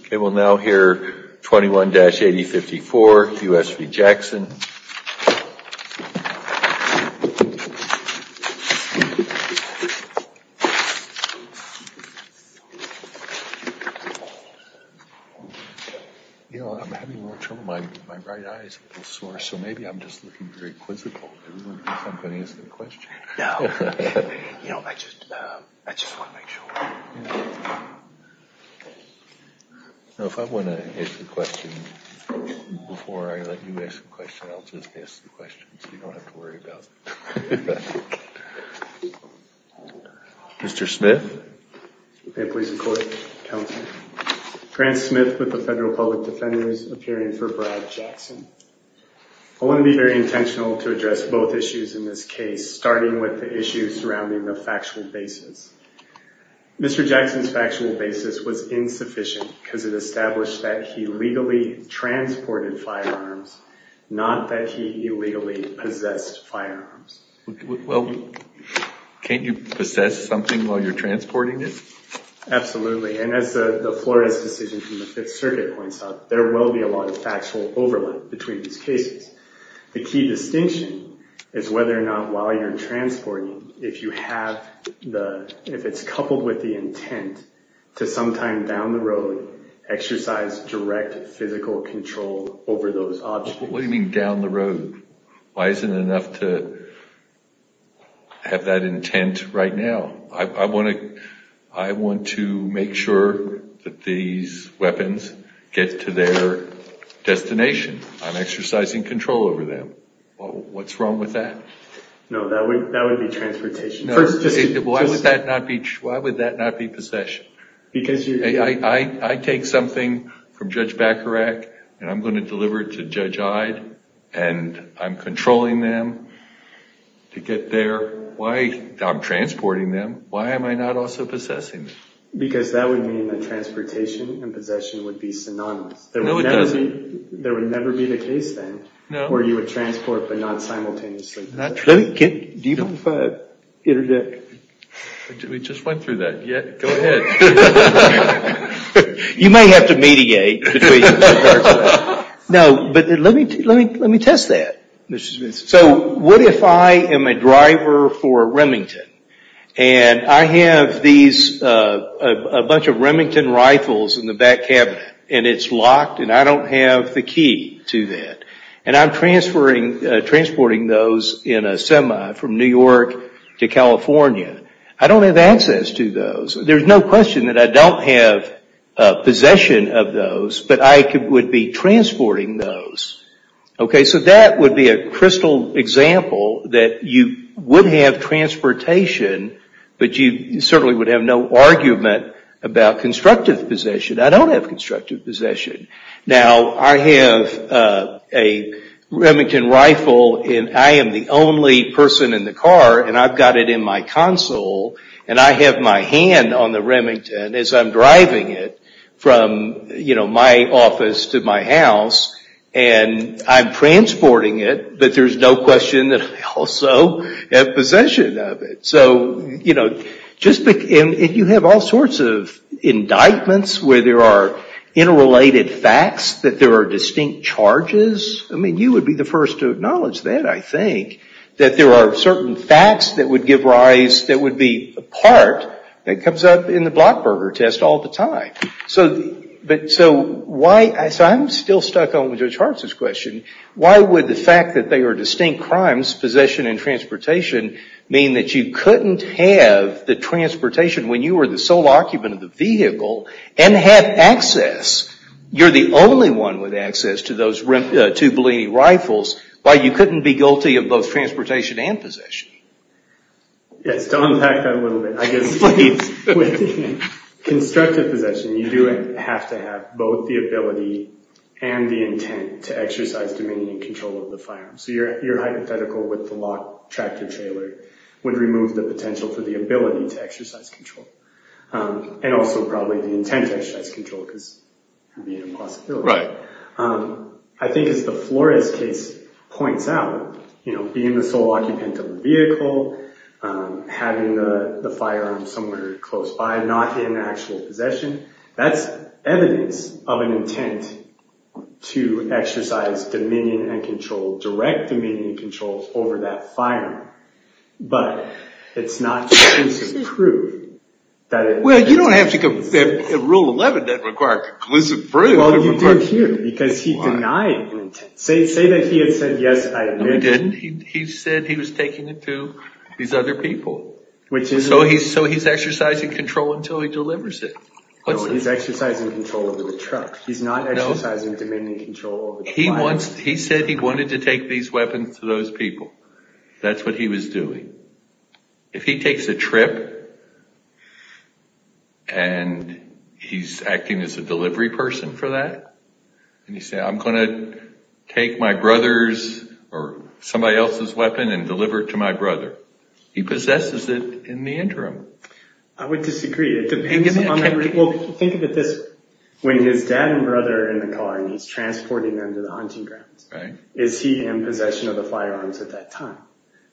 Okay, we'll now hear 21-8054, U.S. v. Jackson. You know, I'm having a little trouble. My right eye is a little sore, so maybe I'm just looking very quizzical. If I want to ask a question, before I let you ask a question, I'll just ask the question, so you don't have to worry about it. Mr. Smith? Grant Smith with the Federal Public Defenders, appearing for Brad Jackson. I want to be very intentional to address both issues in this case, starting with the issue surrounding the factual basis. Mr. Jackson's factual basis was insufficient because it established that he legally transported firearms, not that he illegally possessed firearms. Well, can't you possess something while you're transporting it? Absolutely, and as the Flores decision from the Fifth Circuit points out, there will be a lot of factual overlap between these cases. The key distinction is whether or not while you're transporting, if it's coupled with the intent to sometime down the road exercise direct physical control over those objects. What do you mean down the road? Why isn't it enough to have that intent right now? I want to make sure that these weapons get to their destination. I'm exercising control over them. What's wrong with that? No, that would be transportation. Why would that not be possession? I take something from Judge Bacharach, and I'm going to deliver it to Judge Ide, and I'm controlling them to get there. I'm transporting them. Why am I not also possessing them? Because that would mean that transportation and possession would be synonymous. There would never be the case, then, where you would transport but not simultaneously possess. Do you mind if I interject? We just went through that. Go ahead. You may have to mediate. No, but let me test that. So what if I am a driver for Remington, and I have a bunch of Remington rifles in the back cabinet, and it's locked, and I don't have the key to that, and I'm transporting those in a semi from New York to California. I don't have access to those. There's no question that I don't have possession of those, but I would be transporting those. Okay, so that would be a crystal example that you would have transportation, but you certainly would have no argument about constructive possession. I don't have constructive possession. Now, I have a Remington rifle, and I am the only person in the car, and I've got it in my console, and I have my hand on the Remington as I'm driving it from my office to my house, and I'm transporting it, but there's no question that I also have possession of it. And you have all sorts of indictments where there are interrelated facts that there are distinct charges. I mean, you would be the first to acknowledge that, I think, that there are certain facts that would be a part that comes up in the Blockburger test all the time. So I'm still stuck on Judge Hartz's question. Why would the fact that they are distinct crimes, possession and transportation, mean that you couldn't have the transportation when you were the sole occupant of the vehicle, and have access, you're the only one with access to those two Bellini rifles, why you couldn't be guilty of both transportation and possession? Yes, to unpack that a little bit, I guess, please. With constructive possession, you do have to have both the ability and the intent to exercise dominion and control of the firearm. So your hypothetical with the locked tractor trailer would remove the potential for the ability to exercise control, and also probably the intent to exercise control, because it would be an impossibility. I think as the Flores case points out, being the sole occupant of the vehicle, having the firearm somewhere close by, not in actual possession, that's evidence of an intent to exercise dominion and control, direct dominion and control over that firearm. But it's not conclusive proof that it… Well, you don't have to… Rule 11 doesn't require conclusive proof. Well, you do here, because he denied an intent. Say that he had said, yes, I admit… He didn't. He said he was taking it to these other people. So he's exercising control until he delivers it. No, he's exercising control over the truck. He's not exercising dominion and control over the firearm. He said he wanted to take these weapons to those people. That's what he was doing. If he takes a trip, and he's acting as a delivery person for that, and he says, I'm going to take my brother's or somebody else's weapon and deliver it to my brother, he possesses it in the interim. I would disagree. Think of it this way. When his dad and brother are in the car, and he's transporting them to the hunting grounds, is he in possession of the firearms at that time?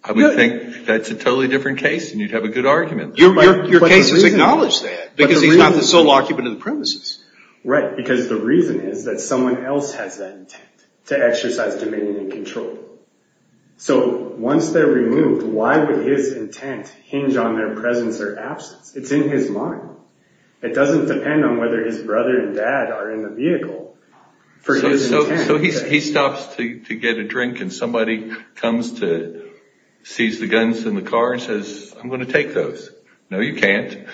I would think that's a totally different case, and you'd have a good argument. Your case has acknowledged that, because he's not the sole occupant of the premises. Right, because the reason is that someone else has that intent to exercise dominion and control. So once they're removed, why would his intent hinge on their presence or absence? It's in his mind. It doesn't depend on whether his brother and dad are in the vehicle for his intent. So he stops to get a drink, and somebody comes to seize the guns in the car and says, I'm going to take those. No, you can't.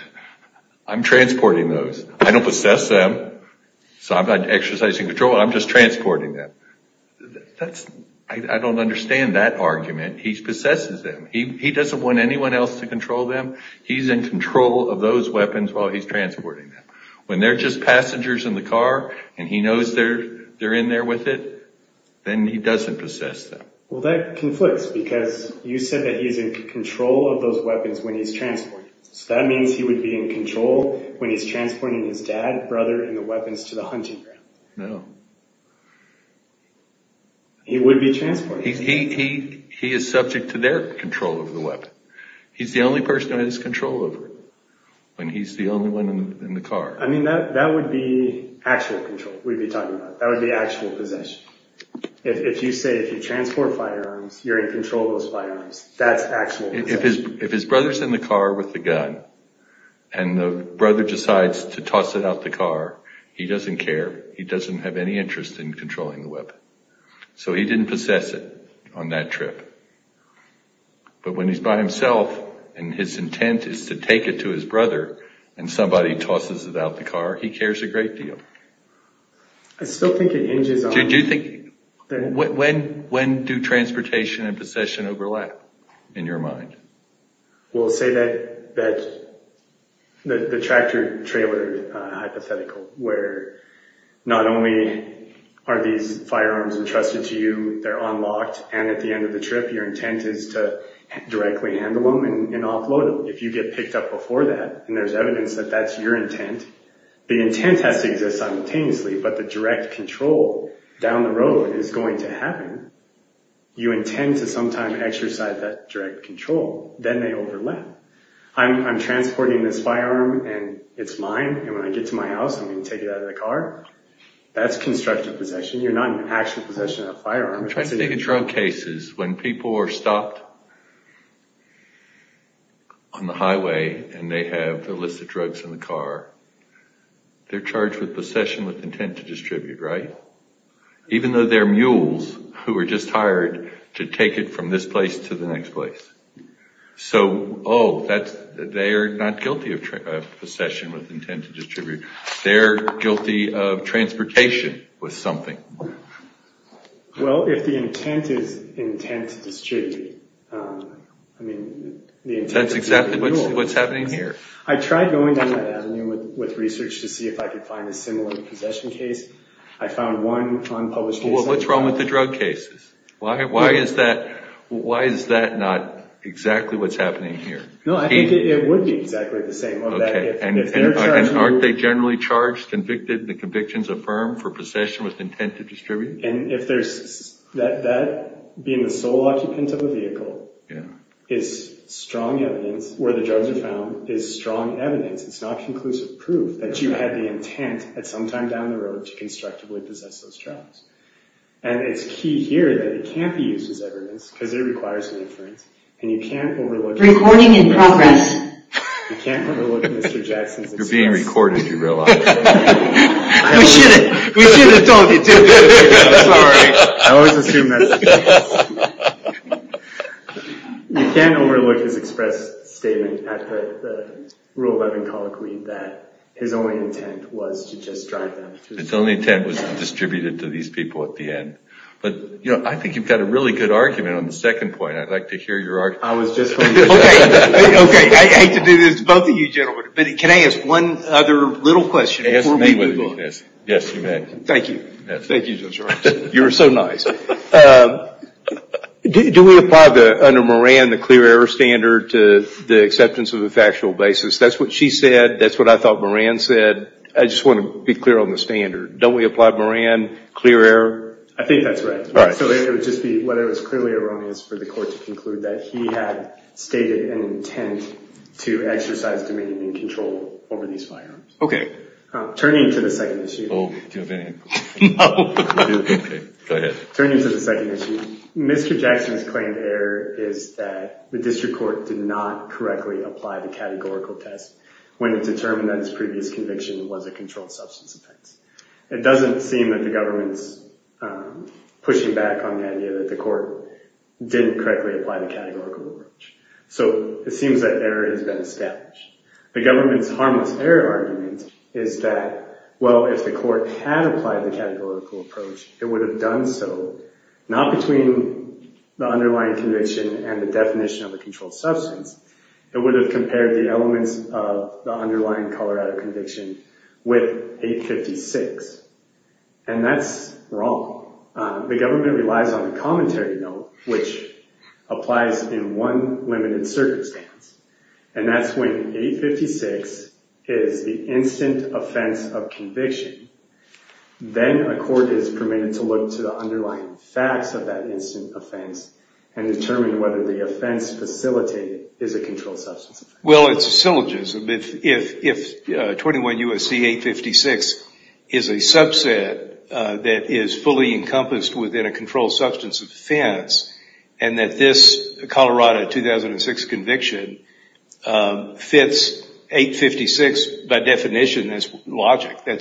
I'm transporting those. I don't possess them, so I'm not exercising control. I'm just transporting them. I don't understand that argument. He possesses them. He doesn't want anyone else to control them. He's in control of those weapons while he's transporting them. When they're just passengers in the car, and he knows they're in there with it, then he doesn't possess them. Well, that conflicts, because you said that he's in control of those weapons when he's transporting them. So that means he would be in control when he's transporting his dad, brother, and the weapons to the hunting ground. No. He would be transported. He is subject to their control of the weapon. He's the only person who has control over it when he's the only one in the car. I mean, that would be actual control we'd be talking about. That would be actual possession. If you say if you transport firearms, you're in control of those firearms, that's actual possession. If his brother's in the car with the gun, and the brother decides to toss it out the car, he doesn't care. He doesn't have any interest in controlling the weapon. So he didn't possess it on that trip. But when he's by himself, and his intent is to take it to his brother, and somebody tosses it out the car, he cares a great deal. I still think it hinges on... When do transportation and possession overlap in your mind? We'll say that the tractor-trailer hypothetical, where not only are these firearms entrusted to you, they're unlocked, and at the end of the trip your intent is to directly handle them and offload them. If you get picked up before that, and there's evidence that that's your intent, the intent has to exist simultaneously, but the direct control down the road is going to happen. You intend to sometime exercise that direct control. Then they overlap. I'm transporting this firearm, and it's mine, and when I get to my house I'm going to take it out of the car. That's constructive possession. You're not in actual possession of the firearm. I'm trying to think of drug cases when people are stopped on the highway, and they have illicit drugs in the car. They're charged with possession with intent to distribute, right? Even though they're mules who were just hired to take it from this place to the next place. So, oh, they're not guilty of possession with intent to distribute. They're guilty of transportation with something. Well, if the intent is intent to distribute, I mean, the intent is to be a mule. That's exactly what's happening here. I tried going down that avenue with research to see if I could find a similar possession case. I found one unpublished case. Well, what's wrong with the drug cases? Why is that not exactly what's happening here? No, I think it would be exactly the same. And aren't they generally charged, convicted, and the convictions affirmed for possession with intent to distribute? And that being the sole occupant of a vehicle is strong evidence, where the drugs are found is strong evidence. It's not conclusive proof that you had the intent at some time down the road to constructively possess those drugs. And it's key here that it can't be used as evidence because it requires an inference, and you can't overlook it. Recording in progress. You can't overlook Mr. Jackson's express statement. You're being recorded, you realize. We shouldn't. We shouldn't, don't we, too? Sorry. I always assume that's the case. You can't overlook his express statement at the rule of evancology that his only intent was to just drive them. His only intent was to distribute it to these people at the end. But, you know, I think you've got a really good argument on the second point. I'd like to hear your argument. Okay. I hate to do this to both of you gentlemen, but can I ask one other little question before we move on? Yes, you may. Thank you. Thank you, Judge Rogers. You were so nice. Do we apply under Moran the clear error standard to the acceptance of a factual basis? That's what she said. That's what I thought Moran said. I just want to be clear on the standard. Don't we apply Moran clear error? I think that's right. So it would just be whether it was clearly erroneous for the court to conclude that he had stated an intent to exercise dominion and control over these firearms. Okay. Turning to the second issue. Oh, do you have any? No. Okay. Go ahead. Turning to the second issue, Mr. Jackson's claimed error is that the district court did not correctly apply the categorical test when it determined that his previous conviction was a controlled substance offense. It doesn't seem that the government's pushing back on the idea that the court didn't correctly apply the categorical approach. So it seems that error has been established. The government's harmless error argument is that, well, if the court had applied the categorical approach, it would have done so not between the underlying conviction and the definition of a controlled substance. It would have compared the elements of the underlying Colorado conviction with 856, and that's wrong. The government relies on the commentary note, which applies in one limited circumstance, and that's when 856 is the instant offense of conviction. Then a court is permitted to look to the underlying facts of that instant offense and determine whether the offense facilitated is a controlled substance offense. Well, it's a syllogism. If 21 U.S.C. 856 is a subset that is fully encompassed within a controlled substance offense and that this Colorado 2006 conviction fits 856 by definition as logic, then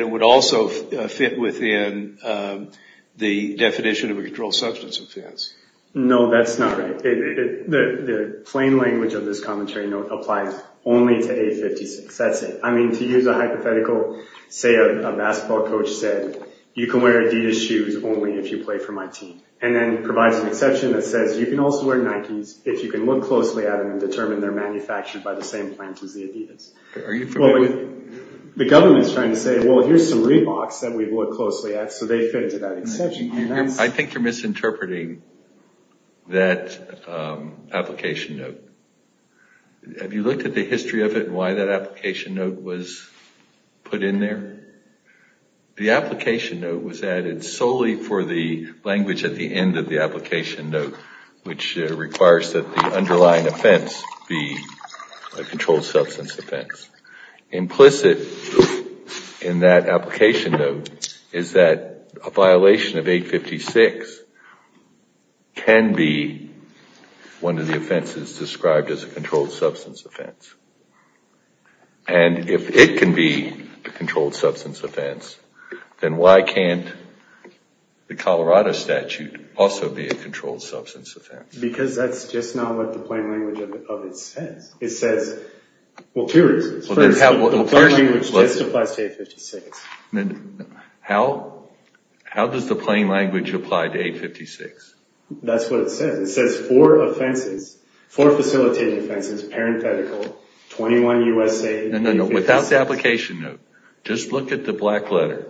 it would also fit within the definition of a controlled substance offense. No, that's not right. The plain language of this commentary note applies only to 856. That's it. I mean, to use a hypothetical, say a basketball coach said, you can wear Adidas shoes only if you play for my team, and then provides an exception that says you can also wear Nikes if you can look closely at them and determine they're manufactured by the same plant as the Adidas. The government is trying to say, well, here's some Reeboks that we've looked closely at, so they fit into that exception. I think you're misinterpreting that application note. Have you looked at the history of it and why that application note was put in there? The application note was added solely for the language at the end of the application note, which requires that the underlying offense be a controlled substance offense. Implicit in that application note is that a violation of 856 can be one of the offenses described as a controlled substance offense. And if it can be a controlled substance offense, then why can't the Colorado statute also be a controlled substance offense? Because that's just not what the plain language of it says. It says, well, two reasons. First, the plain language just applies to 856. How does the plain language apply to 856? That's what it says. It says four offenses, four facilitated offenses, parenthetical, 21 USA and 856. Without the application note, just look at the black letter,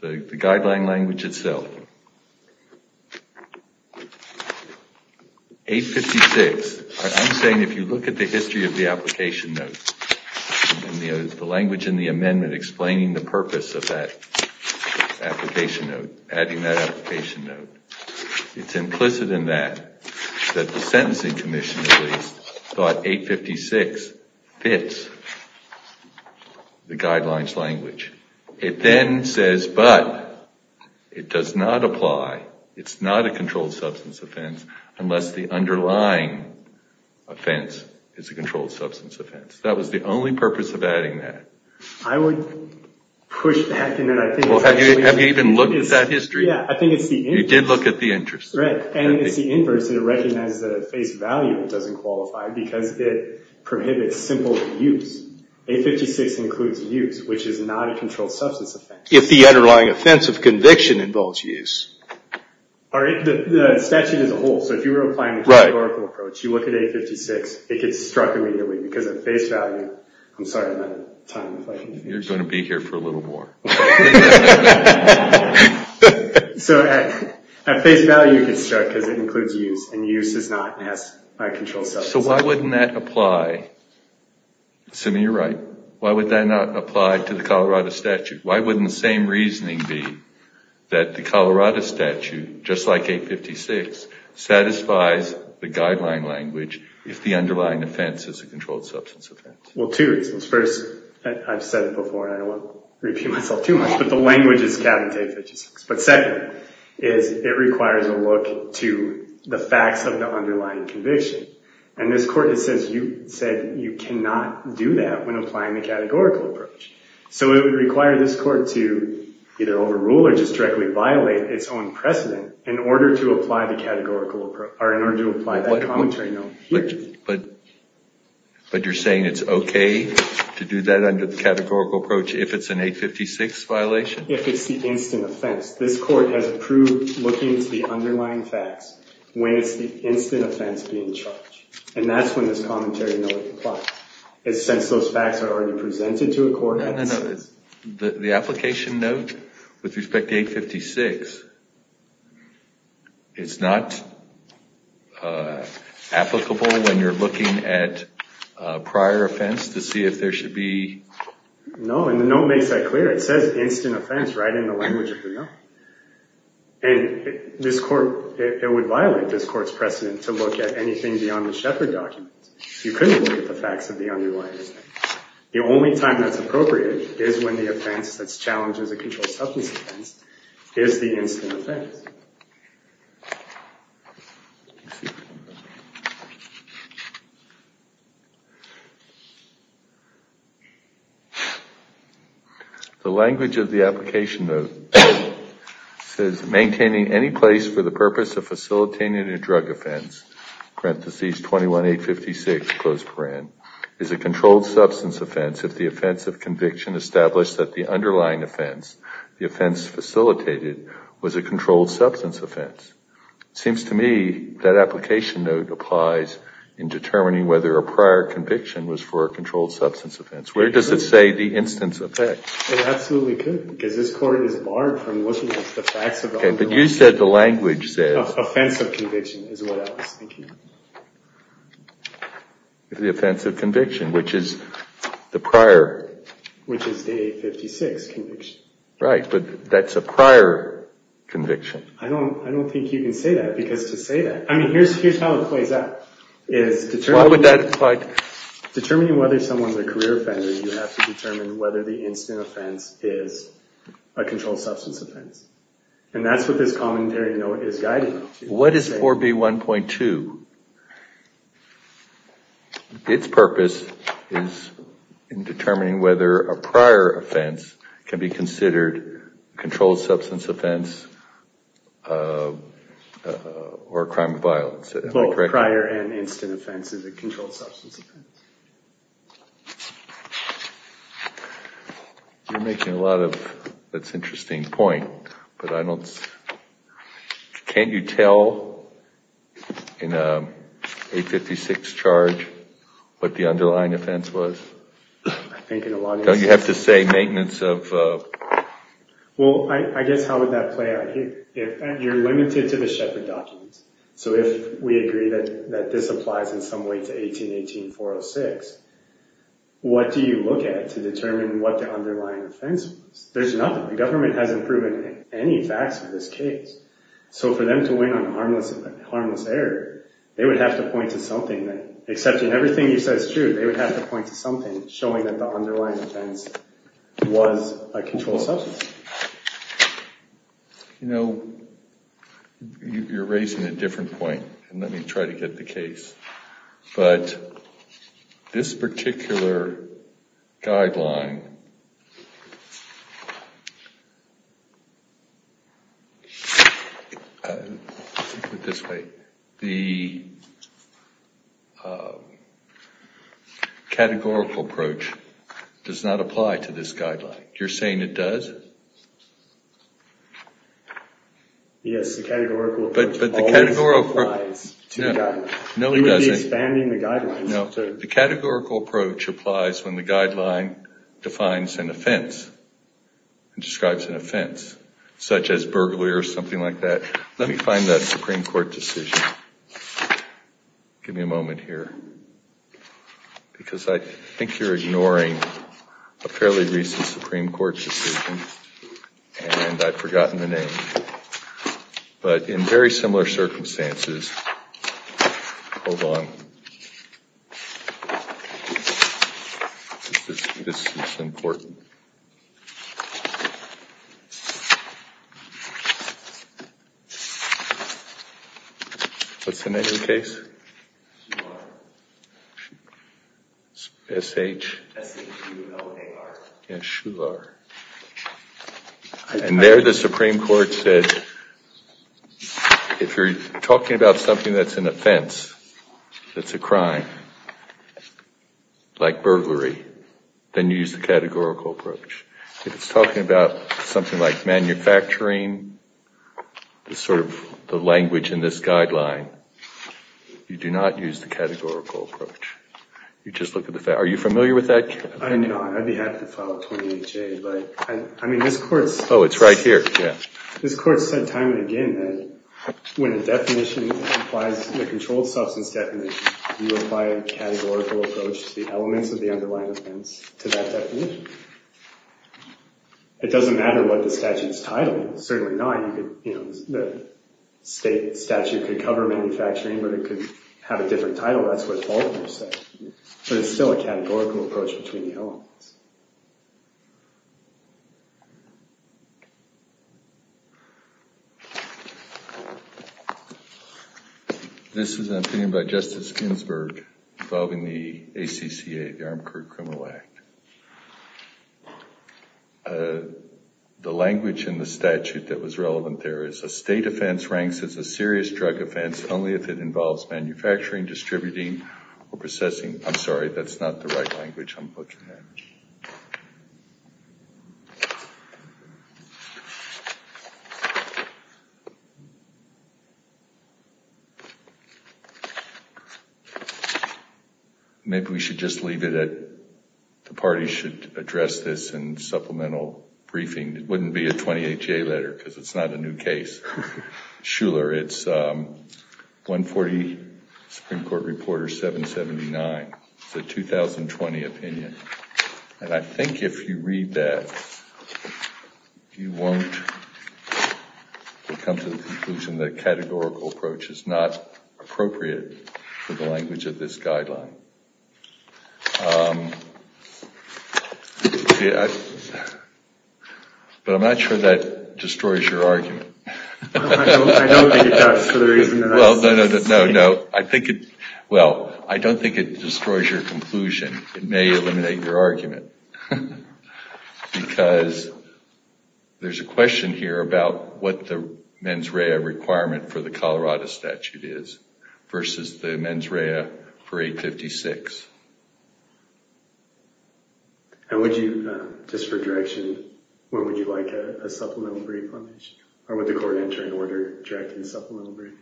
the guideline language itself. 856. I'm saying if you look at the history of the application note and the language in the amendment explaining the purpose of that application note, adding that application note, it's implicit in that that the sentencing commission thought 856 fits the guidelines language. It then says, but, it does not apply, it's not a controlled substance offense, unless the underlying offense is a controlled substance offense. That was the only purpose of adding that. I would push that. Have you even looked at that history? Yeah, I think it's the inverse. You did look at the interest. Right, and it's the inverse, and it recognizes that at face value it doesn't qualify because it prohibits simple use. 856 includes use, which is not a controlled substance offense. If the underlying offense of conviction involves use. The statute is a whole, so if you were applying a categorical approach, you look at 856, it gets struck immediately because at face value, I'm sorry I'm out of time. You're going to be here for a little more. So at face value it gets struck because it includes use, and use is not a controlled substance offense. So why wouldn't that apply? Simi, you're right. Why would that not apply to the Colorado statute? Why wouldn't the same reasoning be that the Colorado statute, just like 856, satisfies the guideline language if the underlying offense is a controlled substance offense? Well, two reasons. First, I've said it before, and I don't want to repeat myself, but the language is cabinet 856. But second is it requires a look to the facts of the underlying conviction. And this Court has said you cannot do that when applying the categorical approach. So it would require this Court to either overrule or just directly violate its own precedent in order to apply the categorical approach, or in order to apply that commentary note here. But you're saying it's OK to do that under the categorical approach if it's an 856 violation? If it's the instant offense. This Court has approved looking to the underlying facts when it's the instant offense being charged. And that's when this commentary note applies. It's since those facts are already presented to a court. The application note with respect to 856, it's not applicable when you're looking at prior offense to see if there should be... No, and the note makes that clear. It says instant offense right in the language of the note. And this Court, it would violate this Court's precedent to look at anything beyond the Shepard document. You couldn't look at the facts of the underlying offense. The only time that's appropriate is when the offense that's challenged as a controlled substance offense is the instant offense. The language of the application note says, maintaining any place for the purpose of facilitating a drug offense, parentheses, 21-856, close parent, is a controlled substance offense if the offense of conviction establishes that the underlying offense, the offense facilitated, was a controlled substance offense. It seems to me that application note applies in determining whether a prior conviction was for a controlled substance offense. Where does it say the instant offense? It absolutely could, because this Court is barred from looking at the facts of the underlying offense. OK, but you said the language says... Offense of conviction is what I was thinking. The offense of conviction, which is the prior... Which is Day 56 conviction. Right, but that's a prior conviction. I don't think you can say that, because to say that... I mean, here's how it plays out. Why would that apply? Determining whether someone's a career offender, you have to determine whether the instant offense is a controlled substance offense. And that's what this commentary note is guiding you to. What is 4B1.2? Its purpose is in determining whether a prior offense can be considered a controlled substance offense or a crime of violence. Am I correct? Both prior and instant offense is a controlled substance offense. You're making a lot of... That's an interesting point, but I don't... Can't you tell in a Day 56 charge what the underlying offense was? I think in a lot of instances... You have to say maintenance of... Well, I guess how would that play out here? You're limited to the Sheppard documents. So if we agree that this applies in some way to 1818.406, what do you look at to determine what the underlying offense was? There's nothing. The government hasn't proven any facts for this case. So for them to win on harmless error, they would have to point to something that... Except in everything you said is true, they would have to point to something showing that the underlying offense was a controlled substance. You know, you're raising a different point. And let me try to get the case. But this particular guideline... I'll put it this way. The categorical approach does not apply to this guideline. You're saying it does? Yes, the categorical approach always applies to the guideline. No, it doesn't. We would be expanding the guidelines. No. The categorical approach applies when the guideline defines an offense and describes an offense, such as burglary or something like that. Let me find that Supreme Court decision. Give me a moment here. Because I think you're ignoring a fairly recent Supreme Court decision, and I've forgotten the name. But in very similar circumstances... Hold on. This is important. What's the name of the case? Shular. S-H? S-H-U-L-A-R. Yes, Shular. And there the Supreme Court said, if you're talking about something that's an offense, that's a crime, like burglary, then you use the categorical approach. If it's talking about something like manufacturing, the sort of language in this guideline, you do not use the categorical approach. You just look at the... Are you familiar with that? I'm not. I'd be happy to follow 28J, but I mean, this Court... Oh, it's right here. Yeah. This Court said time and again that when a definition applies, the controlled substance definition, you apply a categorical approach to the elements of the underlying offense to that definition. It doesn't matter what the statute's title. Certainly not. The state statute could cover manufacturing, but it could have a different title. That's what Faulkner said. But it's still a categorical approach between the elements. This is an opinion by Justice Ginsburg involving the ACCA, the Armed Crew Criminal Act. The language in the statute that was relevant there is, a state offense ranks as a serious drug offense only if it involves manufacturing, distributing, or processing. I'm sorry, that's not the right language I'm looking at. Maybe we should just leave it at, the parties should address this in supplemental briefing. It wouldn't be a 28J letter because it's not a new case. Schuller, it's 140 Supreme Court Reporter 779. It's a 2020 opinion. And I think if you read that, you won't come to the conclusion that a categorical approach is not appropriate for the language of this guideline. But I'm not sure that destroys your argument. I don't think it does for the reason that I'm saying. No, no. Well, I don't think it destroys your conclusion. It may eliminate your argument. Because there's a question here about what the mens rea requirement for the Colorado statute is versus the mens rea for 856. And would you, just for direction, where would you like a supplemental brief on this? Or would the court enter in order directing the supplemental brief?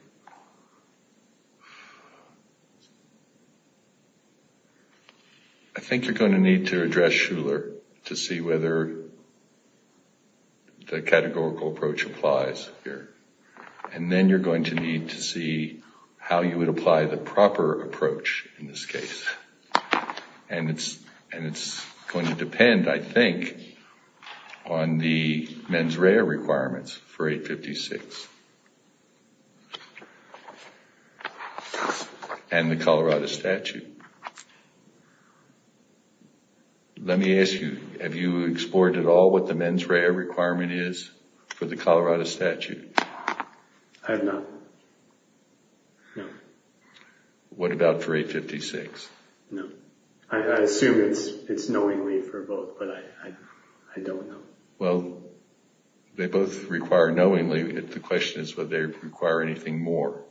I think you're going to need to address Schuller to see whether the categorical approach applies here. And then you're going to need to see how you would apply the proper approach in this case. And it's going to depend, I think, on the mens rea requirements for 856 and the Colorado statute. Let me ask you, have you explored at all what the mens rea requirement is for the Colorado statute? I have not. No. What about for 856? No. I assume it's knowingly for both, but I don't know. Well, they both require knowingly. The question is whether they require anything more.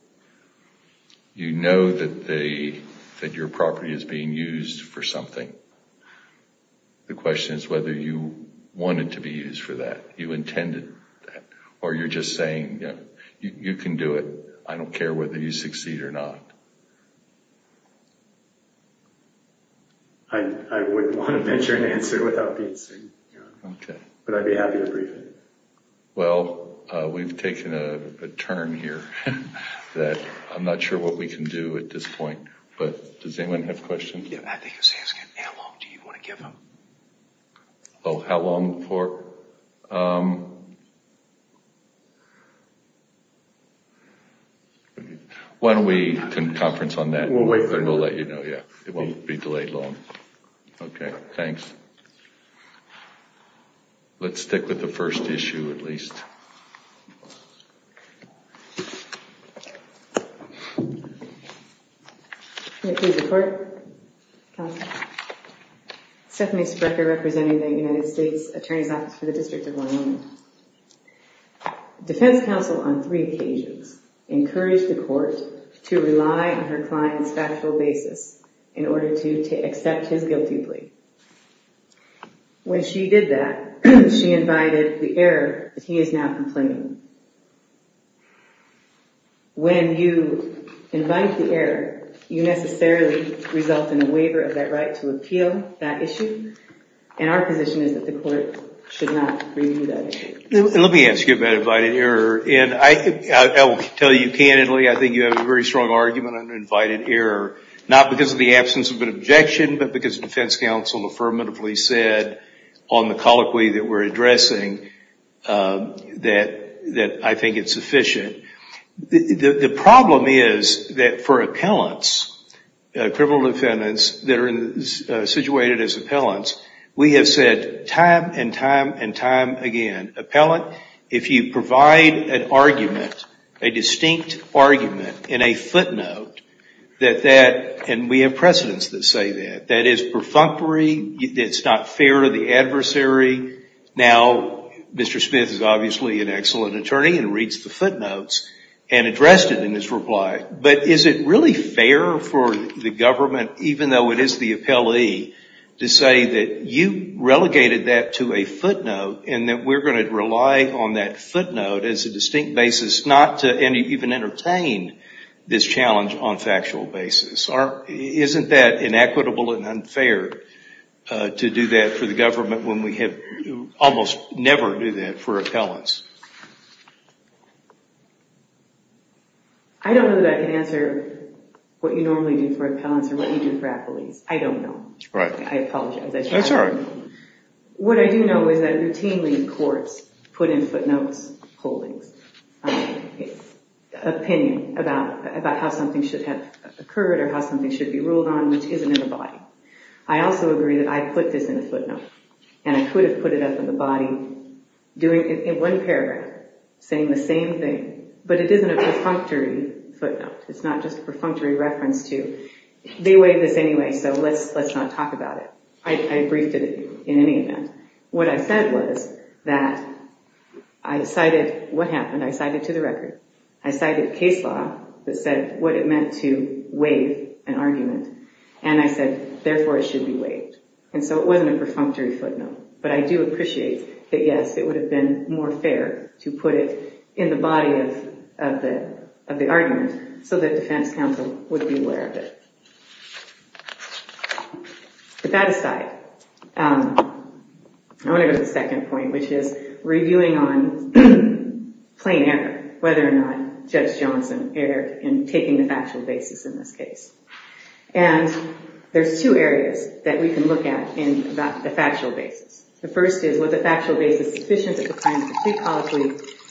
You know that your property is being used for something. The question is whether you want it to be used for that. You intended that. Or you're just saying, you can do it. I don't care whether you succeed or not. I wouldn't want to mention an answer without being seen. Okay. But I'd be happy to brief it. Well, we've taken a turn here. I'm not sure what we can do at this point. But does anyone have questions? I think he's asking how long do you want to give him? Oh, how long for? Why don't we conference on that? We'll wait for that. We'll let you know. It won't be delayed long. Okay. Thanks. Let's stick with the first issue at least. Can you please report? Stephanie Sprecher representing the United States Attorney's Office for the District of Wyoming. Defense counsel on three occasions encouraged the court to rely on her client's factual basis in order to accept his guilty plea. When she did that, she invited the error that he is now complaining about. When you invite the error, you necessarily result in a waiver of that right to appeal that issue. And our position is that the court should not review that issue. Let me ask you about invited error. And I will tell you candidly, I think you have a very strong argument on invited error. Not because of the absence of an objection, but because defense counsel affirmatively said on the colloquy that we're addressing that I think it's sufficient. The problem is that for appellants, criminal defendants that are situated as appellants, we have said time and time and time again, appellant, if you provide an argument, a distinct argument in a footnote that that, and we have precedents that say that, that is perfunctory, it's not fair to the adversary. Now, Mr. Smith is obviously an excellent attorney and reads the footnotes and addressed it in his reply. But is it really fair for the government, even though it is the appellee, to say that you relegated that to a footnote and that we're going to rely on that footnote as a distinct basis not to even entertain this challenge on factual basis? Isn't that inequitable and unfair to do that for the government when we have almost never do that for appellants? I don't know that I can answer what you normally do for appellants or what you do for appellees. I don't know. Right. I apologize. That's all right. What I do know is that routinely courts put in footnotes holdings, opinion about how something should have occurred or how something should be ruled on, which isn't in the body. I also agree that I put this in a footnote and I could have put it up in the body in one paragraph saying the same thing, but it isn't a perfunctory footnote. It's not just a perfunctory reference to they waived this anyway, so let's not talk about it. I briefed it in any event. What I said was that I cited what happened. I cited to the record. I cited case law that said what it meant to waive an argument, and I said, therefore, it should be waived. And so it wasn't a perfunctory footnote, but I do appreciate that, yes, it would have been more fair to put it in the body of the argument so that defense counsel would be aware of it. But that aside, I want to go to the second point, which is reviewing on plain error, whether or not Judge Johnson erred in taking the factual basis in this case. And there's two areas that we can look at in the factual basis. The first is was the factual basis sufficient that the client was too costly,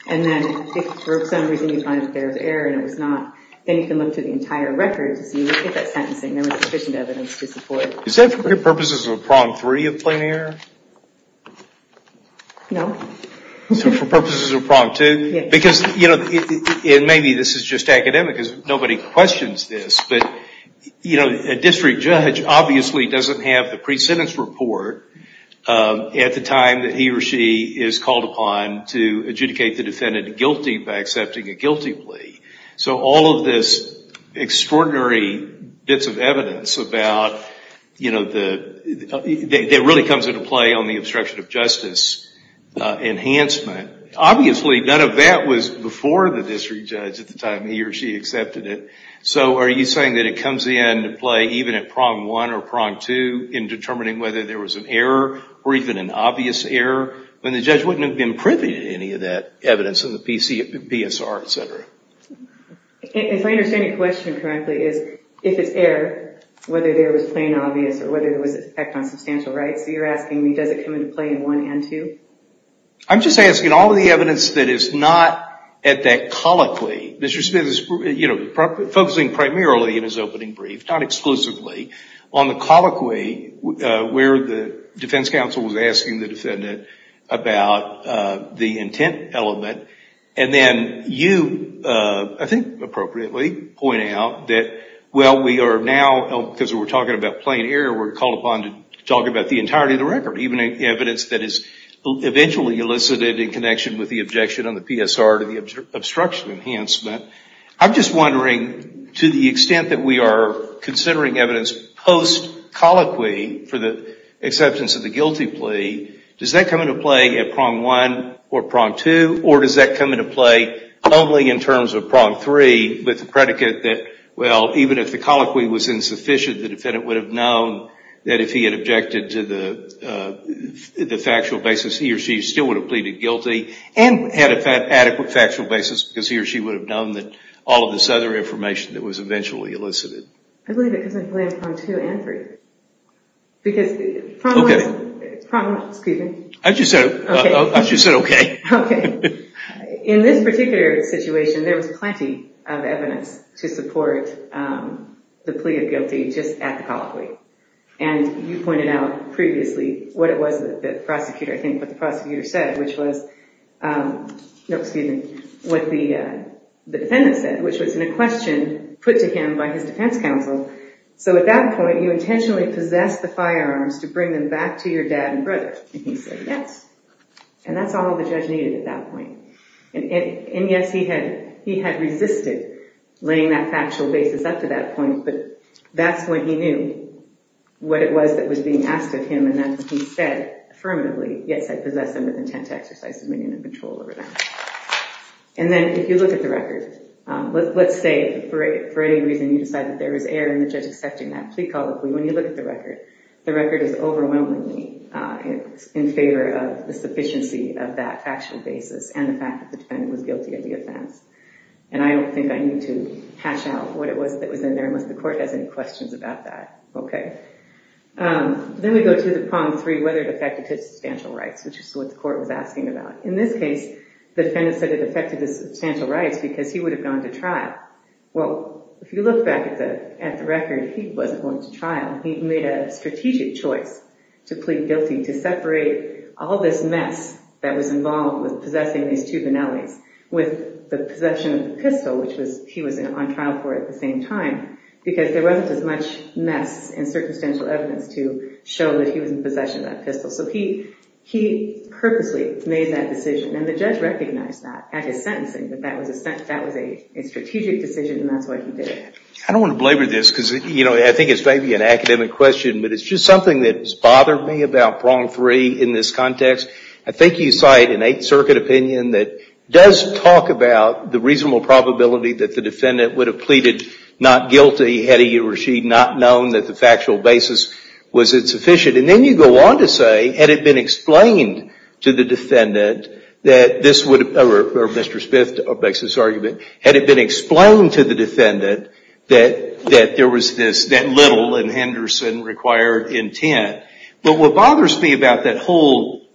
and then if for some reason you find that there was error and it was not, then you can look through the entire record to see if that sentencing there was sufficient evidence to support it. Is that for purposes of prong three of plain error? No. So for purposes of prong two? Yes. Because, you know, and maybe this is just academic because nobody questions this, but, you know, a district judge obviously doesn't have the pre-sentence report at the time that he or she is called upon to adjudicate the defendant guilty by accepting a guilty plea. So all of this extraordinary bits of evidence about, you know, that really comes into play on the obstruction of justice enhancement, obviously none of that was before the district judge at the time he or she accepted it. So are you saying that it comes into play even at prong one or prong two in determining whether there was an error or even an obvious error when the judge wouldn't have been privy to any of that evidence in the PSR, et cetera? If I understand your question correctly, is if it's error, whether there was plain obvious or whether there was an effect on substantial rights, you're asking me does it come into play in one and two? I'm just asking all of the evidence that is not at that colloquy. Mr. Smith is, you know, focusing primarily in his opening brief, not exclusively, on the colloquy where the defense counsel was asking the plaintiff about the intent element. And then you, I think appropriately, point out that, well, we are now, because we're talking about plain error, we're called upon to talk about the entirety of the record, even evidence that is eventually elicited in connection with the objection on the PSR to the obstruction enhancement. I'm just wondering, to the extent that we are considering evidence post-colloquy for the acceptance of the guilty plea, does that come into play at prong one or prong two, or does that come into play only in terms of prong three with the predicate that, well, even if the colloquy was insufficient, the defendant would have known that if he had objected to the factual basis, he or she still would have pleaded guilty and had an adequate factual basis because he or she would have known that all of this other information that was eventually elicited. I believe it comes into play in prong two and three. Because prong one is, excuse me. I just said okay. Okay. In this particular situation, there was plenty of evidence to support the plea of guilty just at the colloquy. And you pointed out previously what it was that the prosecutor, I think what the prosecutor said, which was, no, excuse me, what the defendant said, which was in a question put to him by his defense counsel, so at that point you intentionally possessed the firearms to bring them back to your dad and brother. And he said yes. And that's all the judge needed at that point. And, yes, he had resisted laying that factual basis up to that point, but that's when he knew what it was that was being asked of him and that's when he said affirmatively, yes, I possessed them with intent to exercise dominion and control over them. And then if you look at the record, let's say for any reason you decide that there was error in the judge accepting that plea colloquy, when you look at the record, the record is overwhelmingly in favor of the sufficiency of that factual basis and the fact that the defendant was guilty of the offense. And I don't think I need to hash out what it was that was in there unless the court has any questions about that. Okay. Then we go to the prong three, whether it affected his substantial rights, which is what the court was asking about. In this case, the defendant said it affected his substantial rights because he would have gone to trial. Well, if you look back at the record, he wasn't going to trial. He made a strategic choice to plead guilty to separate all this mess that was involved with possessing these two Vanellis with the possession of the pistol, which he was on trial for at the same time, because there wasn't as much mess and circumstantial evidence to show that he was in possession of that pistol. So he purposely made that decision, and the judge recognized that at his sentencing, that that was a strategic decision, and that's why he did it. I don't want to blabber this, because I think it's maybe an academic question, but it's just something that has bothered me about prong three in this context. I think you cite an Eighth Circuit opinion that does talk about the reasonable probability that the defendant would have pleaded not guilty, had he or she not known that the factual basis was insufficient. And then you go on to say, had it been explained to the defendant that this would, or Mr. Smith makes this argument, had it been explained to the defendant that there was this little and Henderson required intent. But what bothers me about that whole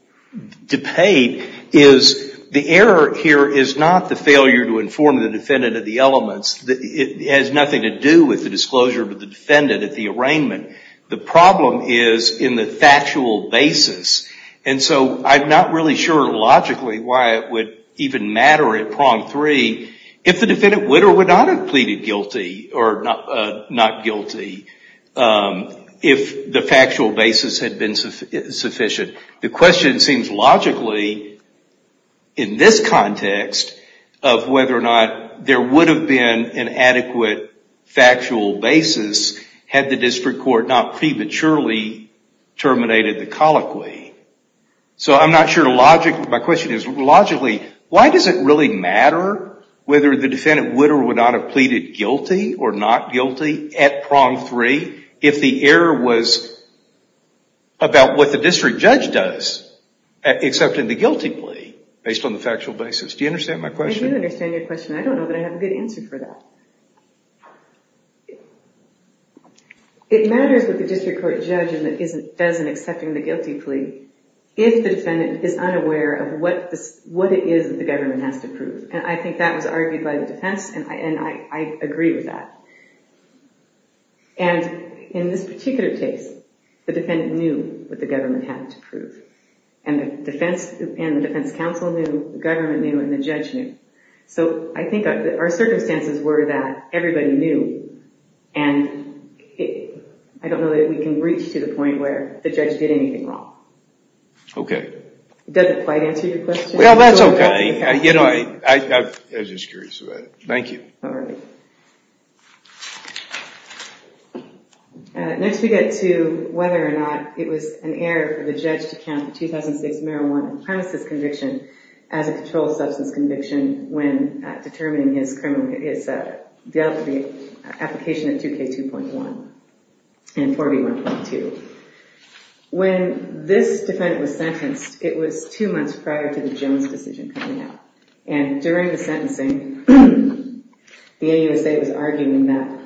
debate is the error here is not the failure to inform the defendant of the elements. It has nothing to do with the disclosure of the defendant at the arraignment. The problem is in the factual basis. And so I'm not really sure logically why it would even matter at prong three if the defendant would or would not have pleaded guilty, or not guilty, if the factual basis had been sufficient. The question seems logically, in this context, of whether or not there would have been an adequate factual basis had the district court not prematurely terminated the colloquy. So I'm not sure logically, my question is logically, why does it really matter whether the defendant would or would not have pleaded guilty or not guilty at prong three if the error was about what the district judge does except in the guilty plea based on the factual basis. Do you understand my question? I do understand your question. I don't know that I have a good answer for that. It matters what the district court judge does in accepting the guilty plea if the defendant is unaware of what it is that the government has to prove. And I think that was argued by the defense, and I agree with that. And in this particular case, the defendant knew what the government had to prove. And the defense counsel knew, the government knew, and the judge knew. So I think our circumstances were that everybody knew, and I don't know that we can reach to the point where the judge did anything wrong. Okay. Does that quite answer your question? Well, that's okay. I was just curious about it. Thank you. All right. Next we get to whether or not it was an error for the judge to count the 2006 marijuana premises conviction as a controlled substance conviction when determining his application at 2K2.1 and 4B1.2. When this defendant was sentenced, it was two months prior to the Jones decision coming out. And during the sentencing, the AUSA was arguing that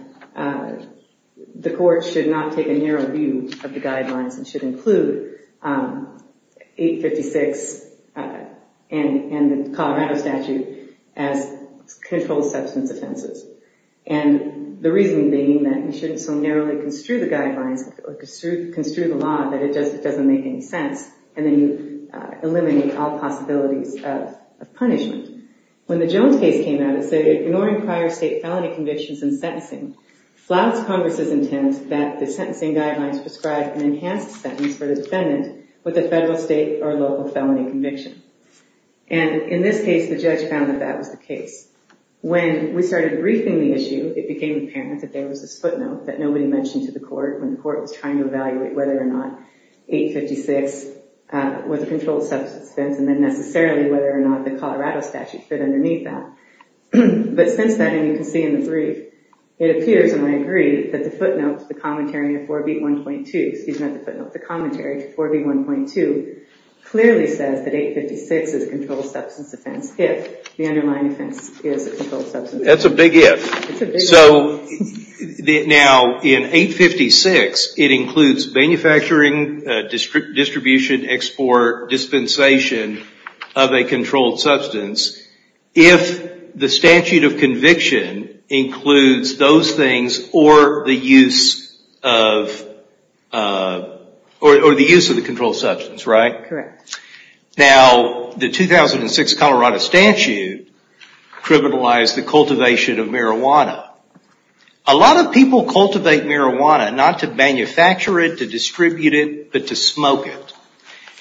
the court should not take a narrow view of the guidelines and should include 856 and the Colorado statute as controlled substance offenses. And the reason being that you shouldn't so narrowly construe the guidelines or construe the law that it just doesn't make any sense, and then you eliminate all possibilities of punishment. When the Jones case came out, it said ignoring prior state felony convictions in sentencing flouts Congress's intent that the sentencing guidelines prescribe an enhanced sentence for the defendant with a federal, state, or local felony conviction. And in this case, the judge found that that was the case. When we started briefing the issue, it became apparent that there was this footnote that nobody mentioned to the court when the court was trying to evaluate whether or not 856 was a controlled substance offense and then necessarily whether or not the Colorado statute fit underneath that. But since then, and you can see in the brief, it appears, and I agree, that the footnote to the commentary of 4B1.2, excuse me, not the footnote, the commentary to 4B1.2, clearly says that 856 is a controlled substance offense if the underlying offense is a controlled substance offense. That's a big if. It's a big if. So, now, in 856, it includes manufacturing, distribution, export, dispensation of a controlled substance. If the statute of conviction includes those things or the use of the controlled substance, right? Correct. Now, the 2006 Colorado statute criminalized the cultivation of marijuana. A lot of people cultivate marijuana not to manufacture it, to distribute it, but to smoke it.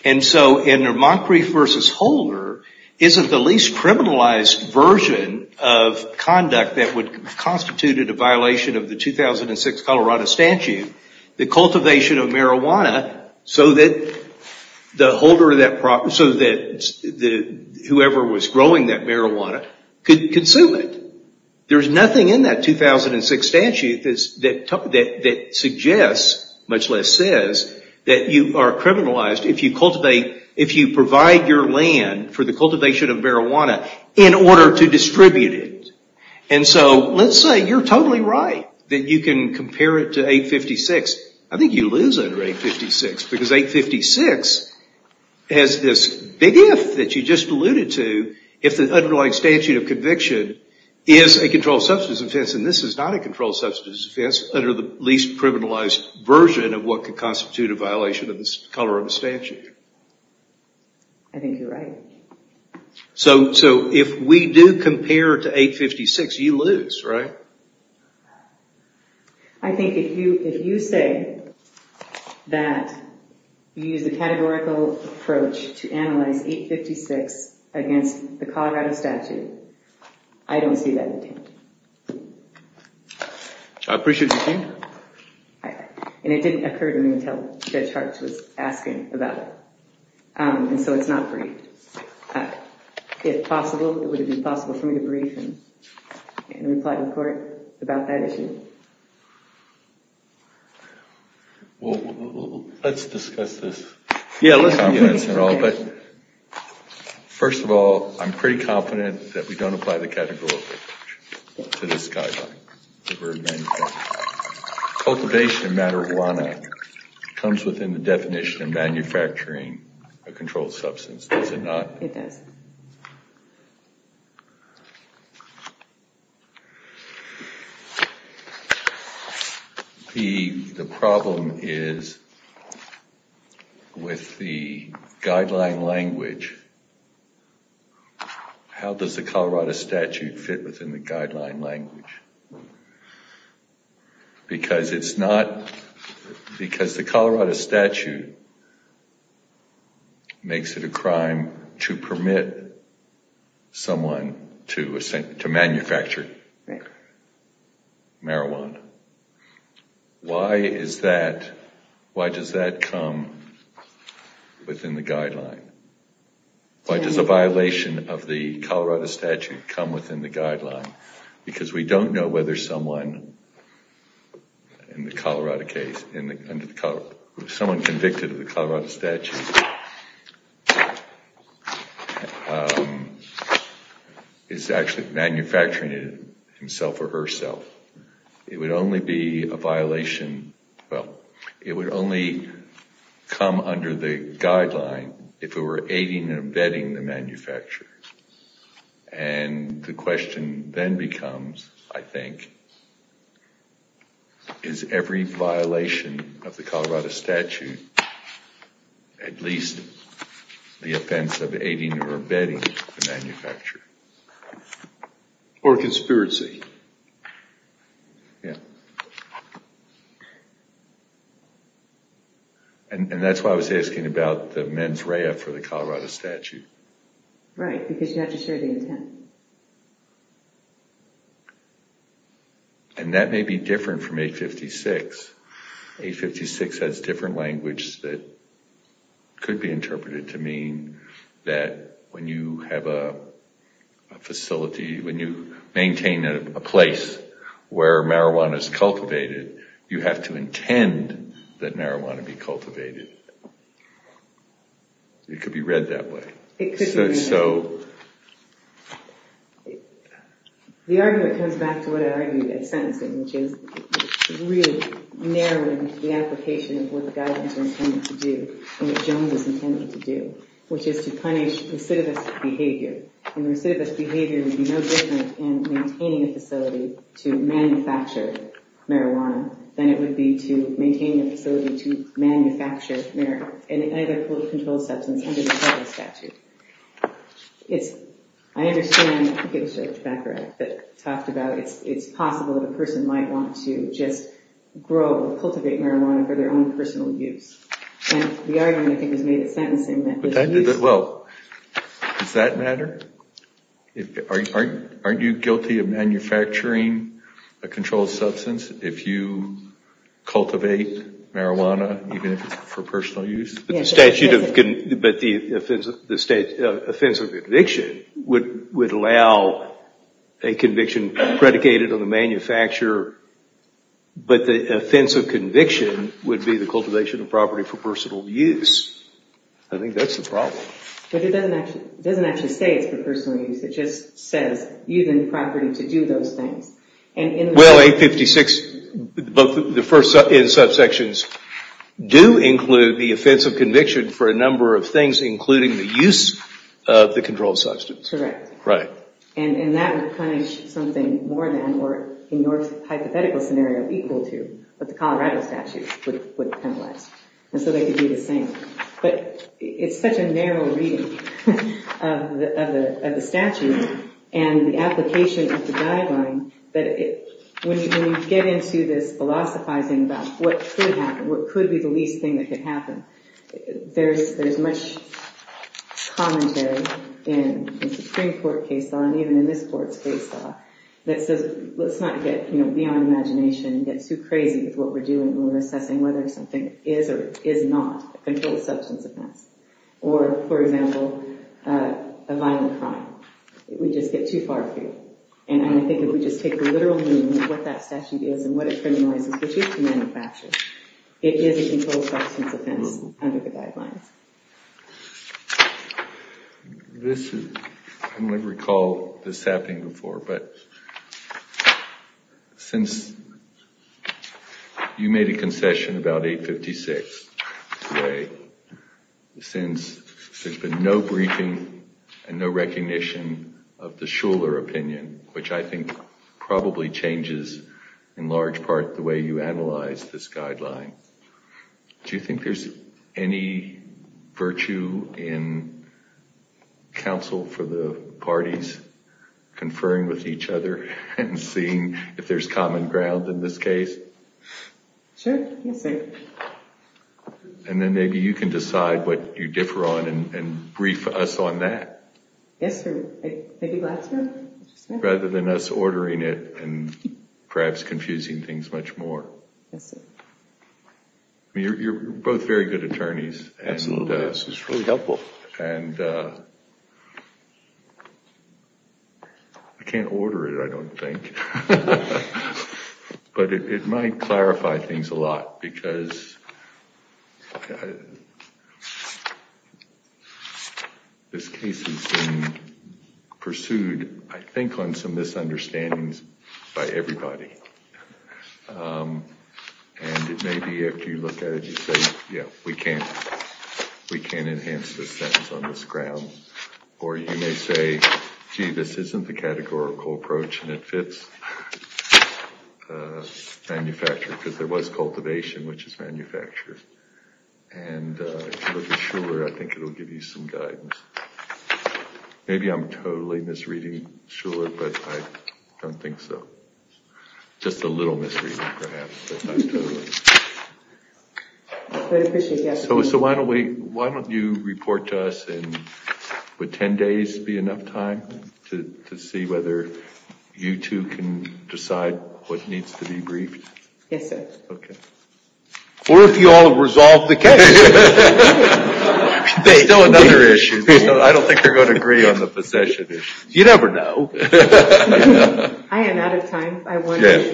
And so, in Moncrief v. Holder, isn't the least criminalized version of conduct that would have constituted a violation of the 2006 Colorado statute, the cultivation of marijuana so that whoever was growing that marijuana could consume it. There's nothing in that 2006 statute that suggests, much less says, that you are criminalized if you cultivate, if you provide your land for the cultivation of marijuana in order to distribute it. And so, let's say you're totally right that you can compare it to 856. I think you lose under 856 because 856 has this big if that you just alluded to if the underlying statute of conviction is a controlled substance offense and this is not a controlled substance offense under the least criminalized version of what could constitute a violation of the Colorado statute. I think you're right. So, if we do compare to 856, you lose, right? I think if you say that you use a categorical approach to analyze 856 against the Colorado statute, I don't see that attempt. I appreciate your point. And it didn't occur to me until Judge Hartz was asking about it. And so, it's not briefed. If possible, it would be possible for me to brief and reply to the court about that issue. Well, let's discuss this. Yeah, let's do that. First of all, I'm pretty confident that we don't apply the categorical approach to this guideline. Cultivation of marijuana comes within the definition of manufacturing a controlled substance, does it not? It does. The problem is with the guideline language, how does the Colorado statute fit within the guideline language? Because it's not... Because the Colorado statute makes it a crime to permit someone to manufacture marijuana. Why is that... Why does that come within the guideline? Why does a violation of the Colorado statute come within the guideline? Because we don't know whether someone in the Colorado case... Someone convicted of the Colorado statute is actually manufacturing it himself or herself. It would only be a violation... Well, it would only come under the guideline if it were aiding and abetting the manufacturer. And the question then becomes, I think, is every violation of the Colorado statute at least the offense of aiding or abetting the manufacturer? Or a conspiracy. Yeah. And that's why I was asking about the mens rea for the Colorado statute. Right, because you have to show the intent. And that may be different from 856. 856 has different language that could be interpreted to mean that when you have a facility... When you maintain a place where marijuana is cultivated, you have to intend that marijuana be cultivated. It could be read that way. It could be read that way. And so... The argument comes back to what I argued at sentencing, which is really narrowing the application of what the guidelines are intended to do and what Jones is intended to do, which is to punish recidivist behavior. And recidivist behavior would be no different in maintaining a facility to manufacture marijuana than it would be to maintain a facility to manufacture any other controlled substance under the Colorado statute. I understand... I think it was George Baccarat that talked about it's possible that a person might want to just grow, cultivate marijuana for their own personal use. And the argument, I think, was made at sentencing that... Well, does that matter? Aren't you guilty of manufacturing a controlled substance if you cultivate marijuana, even if it's for personal use? But the offensive conviction would allow a conviction predicated on the manufacturer, but the offensive conviction would be the cultivation of property for personal use. I think that's the problem. But it doesn't actually say it's for personal use. It just says using the property to do those things. Well, 856, both the first and subsections do include the offensive conviction for a number of things, including the use of the controlled substance. Correct. Right. And that would punish something more than, or in your hypothetical scenario, equal to what the Colorado statute would penalize. And so they could do the same. But it's such a narrow reading of the statute and the application of the guideline that when you get into this philosophizing about what could happen, what could be the least thing that could happen, there's much commentary in the Supreme Court case law and even in this court's case law that says let's not get beyond imagination and get too crazy with what we're doing when we're assessing whether something is or is not a controlled substance offense. Or, for example, a violent crime. We just get too far through. And I think if we just take the literal meaning of what that statute is and what it criminalizes, which is to manufacture, it is a controlled substance offense under the guidelines. I don't recall this happening before, but since you made a concession about 856 today, since there's been no briefing and no recognition of the Shuler opinion, which I think probably changes in large part the way you analyze this guideline, do you think there's any virtue in counsel for the parties conferring with each other and seeing if there's common ground in this case? Sure. Yes, sir. And then maybe you can decide what you differ on and brief us on that. Yes, sir. Rather than us ordering it and perhaps confusing things much more. Yes, sir. You're both very good attorneys. Absolutely. This is really helpful. And I can't order it, I don't think. But it might clarify things a lot because this case has been pursued, I think, on some misunderstandings by everybody. And it may be, if you look at it, you say, yeah, we can't enhance this sentence on this ground. Or you may say, gee, this isn't the categorical approach and it fits manufacture because there was cultivation, which is manufacture. And if you look at Shuler, I think it will give you some guidance. Maybe I'm totally misreading Shuler, but I don't think so. Just a little misreading perhaps, but not totally. So why don't you report to us in, would 10 days be enough time to see whether you two can decide what needs to be briefed? Yes, sir. OK. Or if you all have resolved the case. There's still another issue. I don't think they're going to agree on the possession issue. You never know. I am out of time. I wanted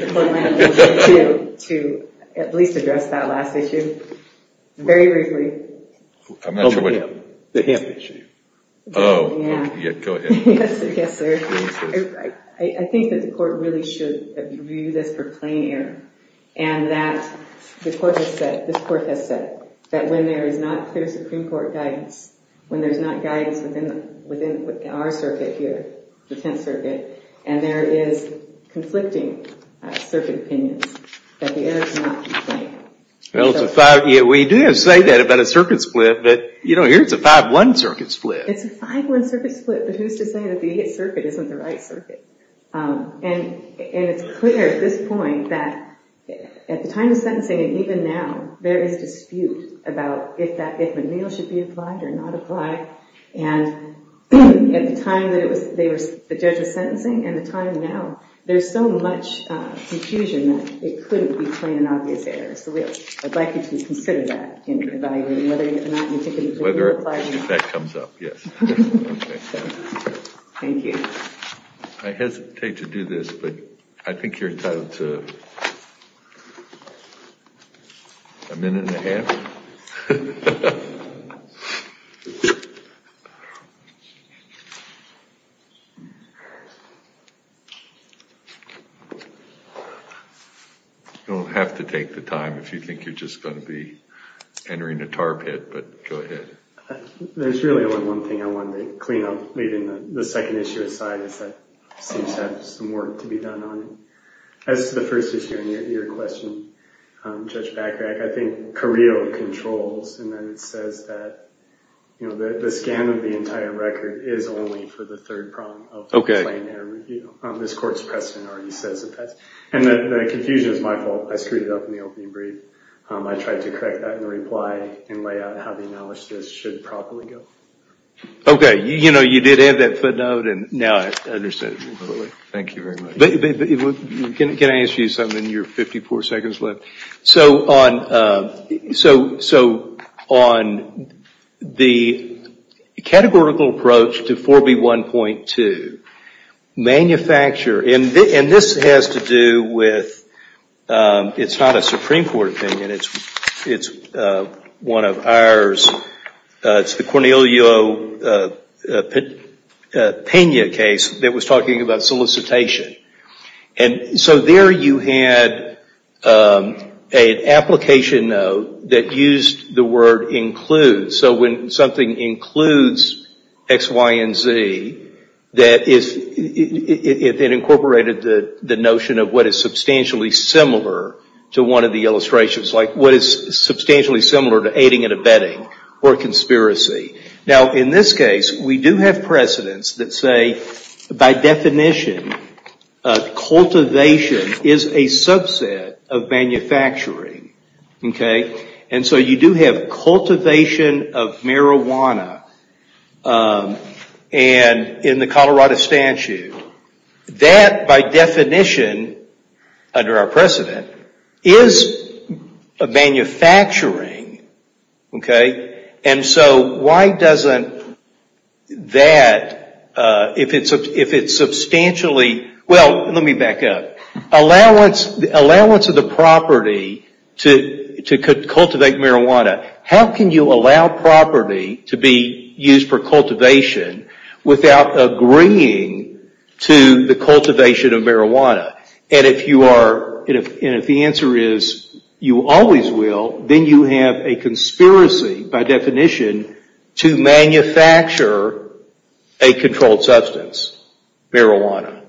to at least address that last issue very briefly. I'm not sure what. The hemp issue. Oh, OK. Go ahead. Yes, sir. I think that the court really should review this for plain error. And that the court has said, this court has said, that when there is not clear Supreme Court guidance, when there's not guidance within our circuit here, the Tenth Circuit, and there is conflicting circuit opinions, that the error cannot be plain. Well, we do have to say that about a circuit split. But here it's a 5-1 circuit split. It's a 5-1 circuit split. But who's to say that the Eighth Circuit isn't the right circuit? And it's clear at this point that at the time of sentencing and even now, there is dispute about if McNeil should be applied or not apply. And at the time that the judge was sentencing and the time now, there's so much confusion that it couldn't be plain and obvious error. So I'd like you to consider that in evaluating whether or not McNeil applied or not. If that comes up, yes. Thank you. I hesitate to do this, but I think you're entitled to a minute and a half. You don't have to take the time if you think you're just going to be entering a tar pit, but go ahead. There's really only one thing I wanted to clean up, leaving the second issue aside, is that it seems to have some work to be done on it. As to the first issue and your question, Judge Backrack, I think Carrillo controls and then it says that the scan of the entire record is only for the third prompt of the plain error review. This court's precedent already says that. And the confusion is my fault. I screwed it up in the opening brief. I tried to correct that in the reply and lay out how the analysis should properly go. Okay. You know, you did add that footnote and now I understand it. Thank you very much. Can I ask you something in your 54 seconds left? So on the categorical approach to 4B1.2, manufacturer, and this has to do with, it's not a Supreme Court opinion. It's one of ours. It's the Cornelio Pena case that was talking about solicitation. And so there you had an application note that used the word includes. So when something includes X, Y, and Z, it incorporated the notion of what is substantially similar to one of the illustrations. Like what is substantially similar to aiding and abetting or conspiracy. Now, in this case, we do have precedents that say, by definition, cultivation is a subset of manufacturing. Okay. And so you do have cultivation of marijuana. And in the Colorado statute, that, by definition, under our precedent, is manufacturing. Okay. And so why doesn't that, if it's substantially, well, let me back up. Allowance of the property to cultivate marijuana. How can you allow property to be used for cultivation without agreeing to the cultivation of marijuana? And if you are, and if the answer is you always will, then you have a conspiracy, by definition, to manufacture a controlled substance, marijuana.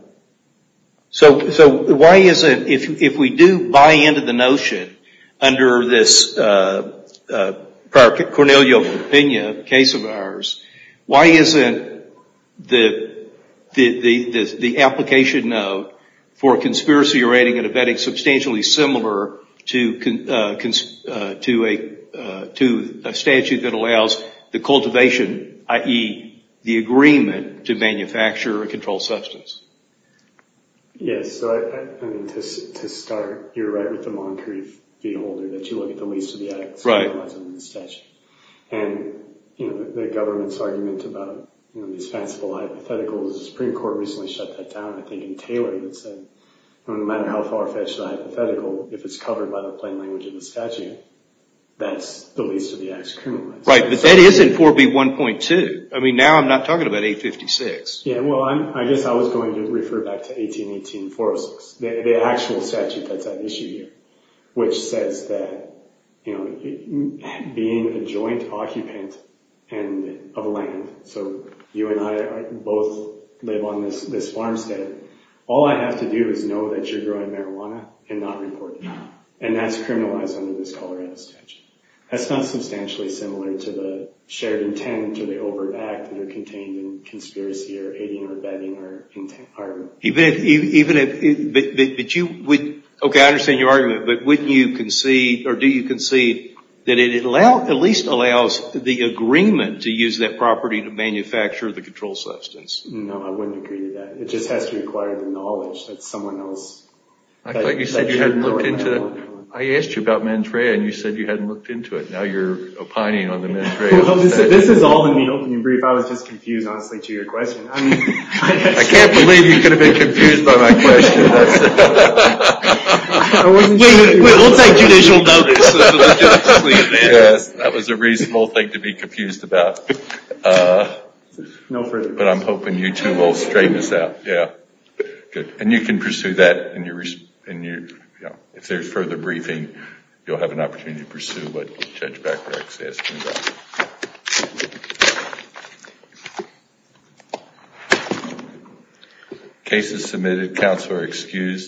So why isn't, if we do buy into the notion, under this Cornelio Pena case of ours, why isn't the application note for conspiracy rating and abetting substantially similar to a statute that allows the cultivation, i.e., the agreement to manufacture a controlled substance? Yes. So I mean, to start, you're right with the Moncrief v. Holder, that you look at the least of the acts criminalized under the statute. And the government's argument about these fanciful hypotheticals, the Supreme Court recently shut that down, I think, in Taylor, that said no matter how far-fetched a hypothetical, if it's covered by the plain language of the statute, that's the least of the acts criminalized. Right. But that isn't 4B1.2. I mean, now I'm not talking about 856. Yeah, well, I guess I was going to refer back to 1818-406, the actual statute that's at issue here, which says that being a joint occupant of land, so you and I both live on this farmstead, all I have to do is know that you're growing marijuana and not report it. And that's criminalized under this Colorado statute. That's not substantially similar to the shared intent or the overt act that are contained in conspiracy or aiding or abetting or intent. Okay, I understand your argument, but wouldn't you concede or do you concede that it at least allows the agreement to use that property to manufacture the controlled substance? No, I wouldn't agree to that. It just has to require the knowledge that someone else. I thought you said you hadn't looked into it. I asked you about Mantraya and you said you hadn't looked into it. Now you're opining on the Mantraya. This is all in the opening brief. I was just confused, honestly, to your question. I can't believe you could have been confused by my question. We'll take judicial notice. That was a reasonable thing to be confused about. No further questions. But I'm hoping you two will straighten this out. And you can pursue that. If there's further briefing, you'll have an opportunity to pursue what Judge Bacharach is asking about. Case is submitted. Counsel are excused.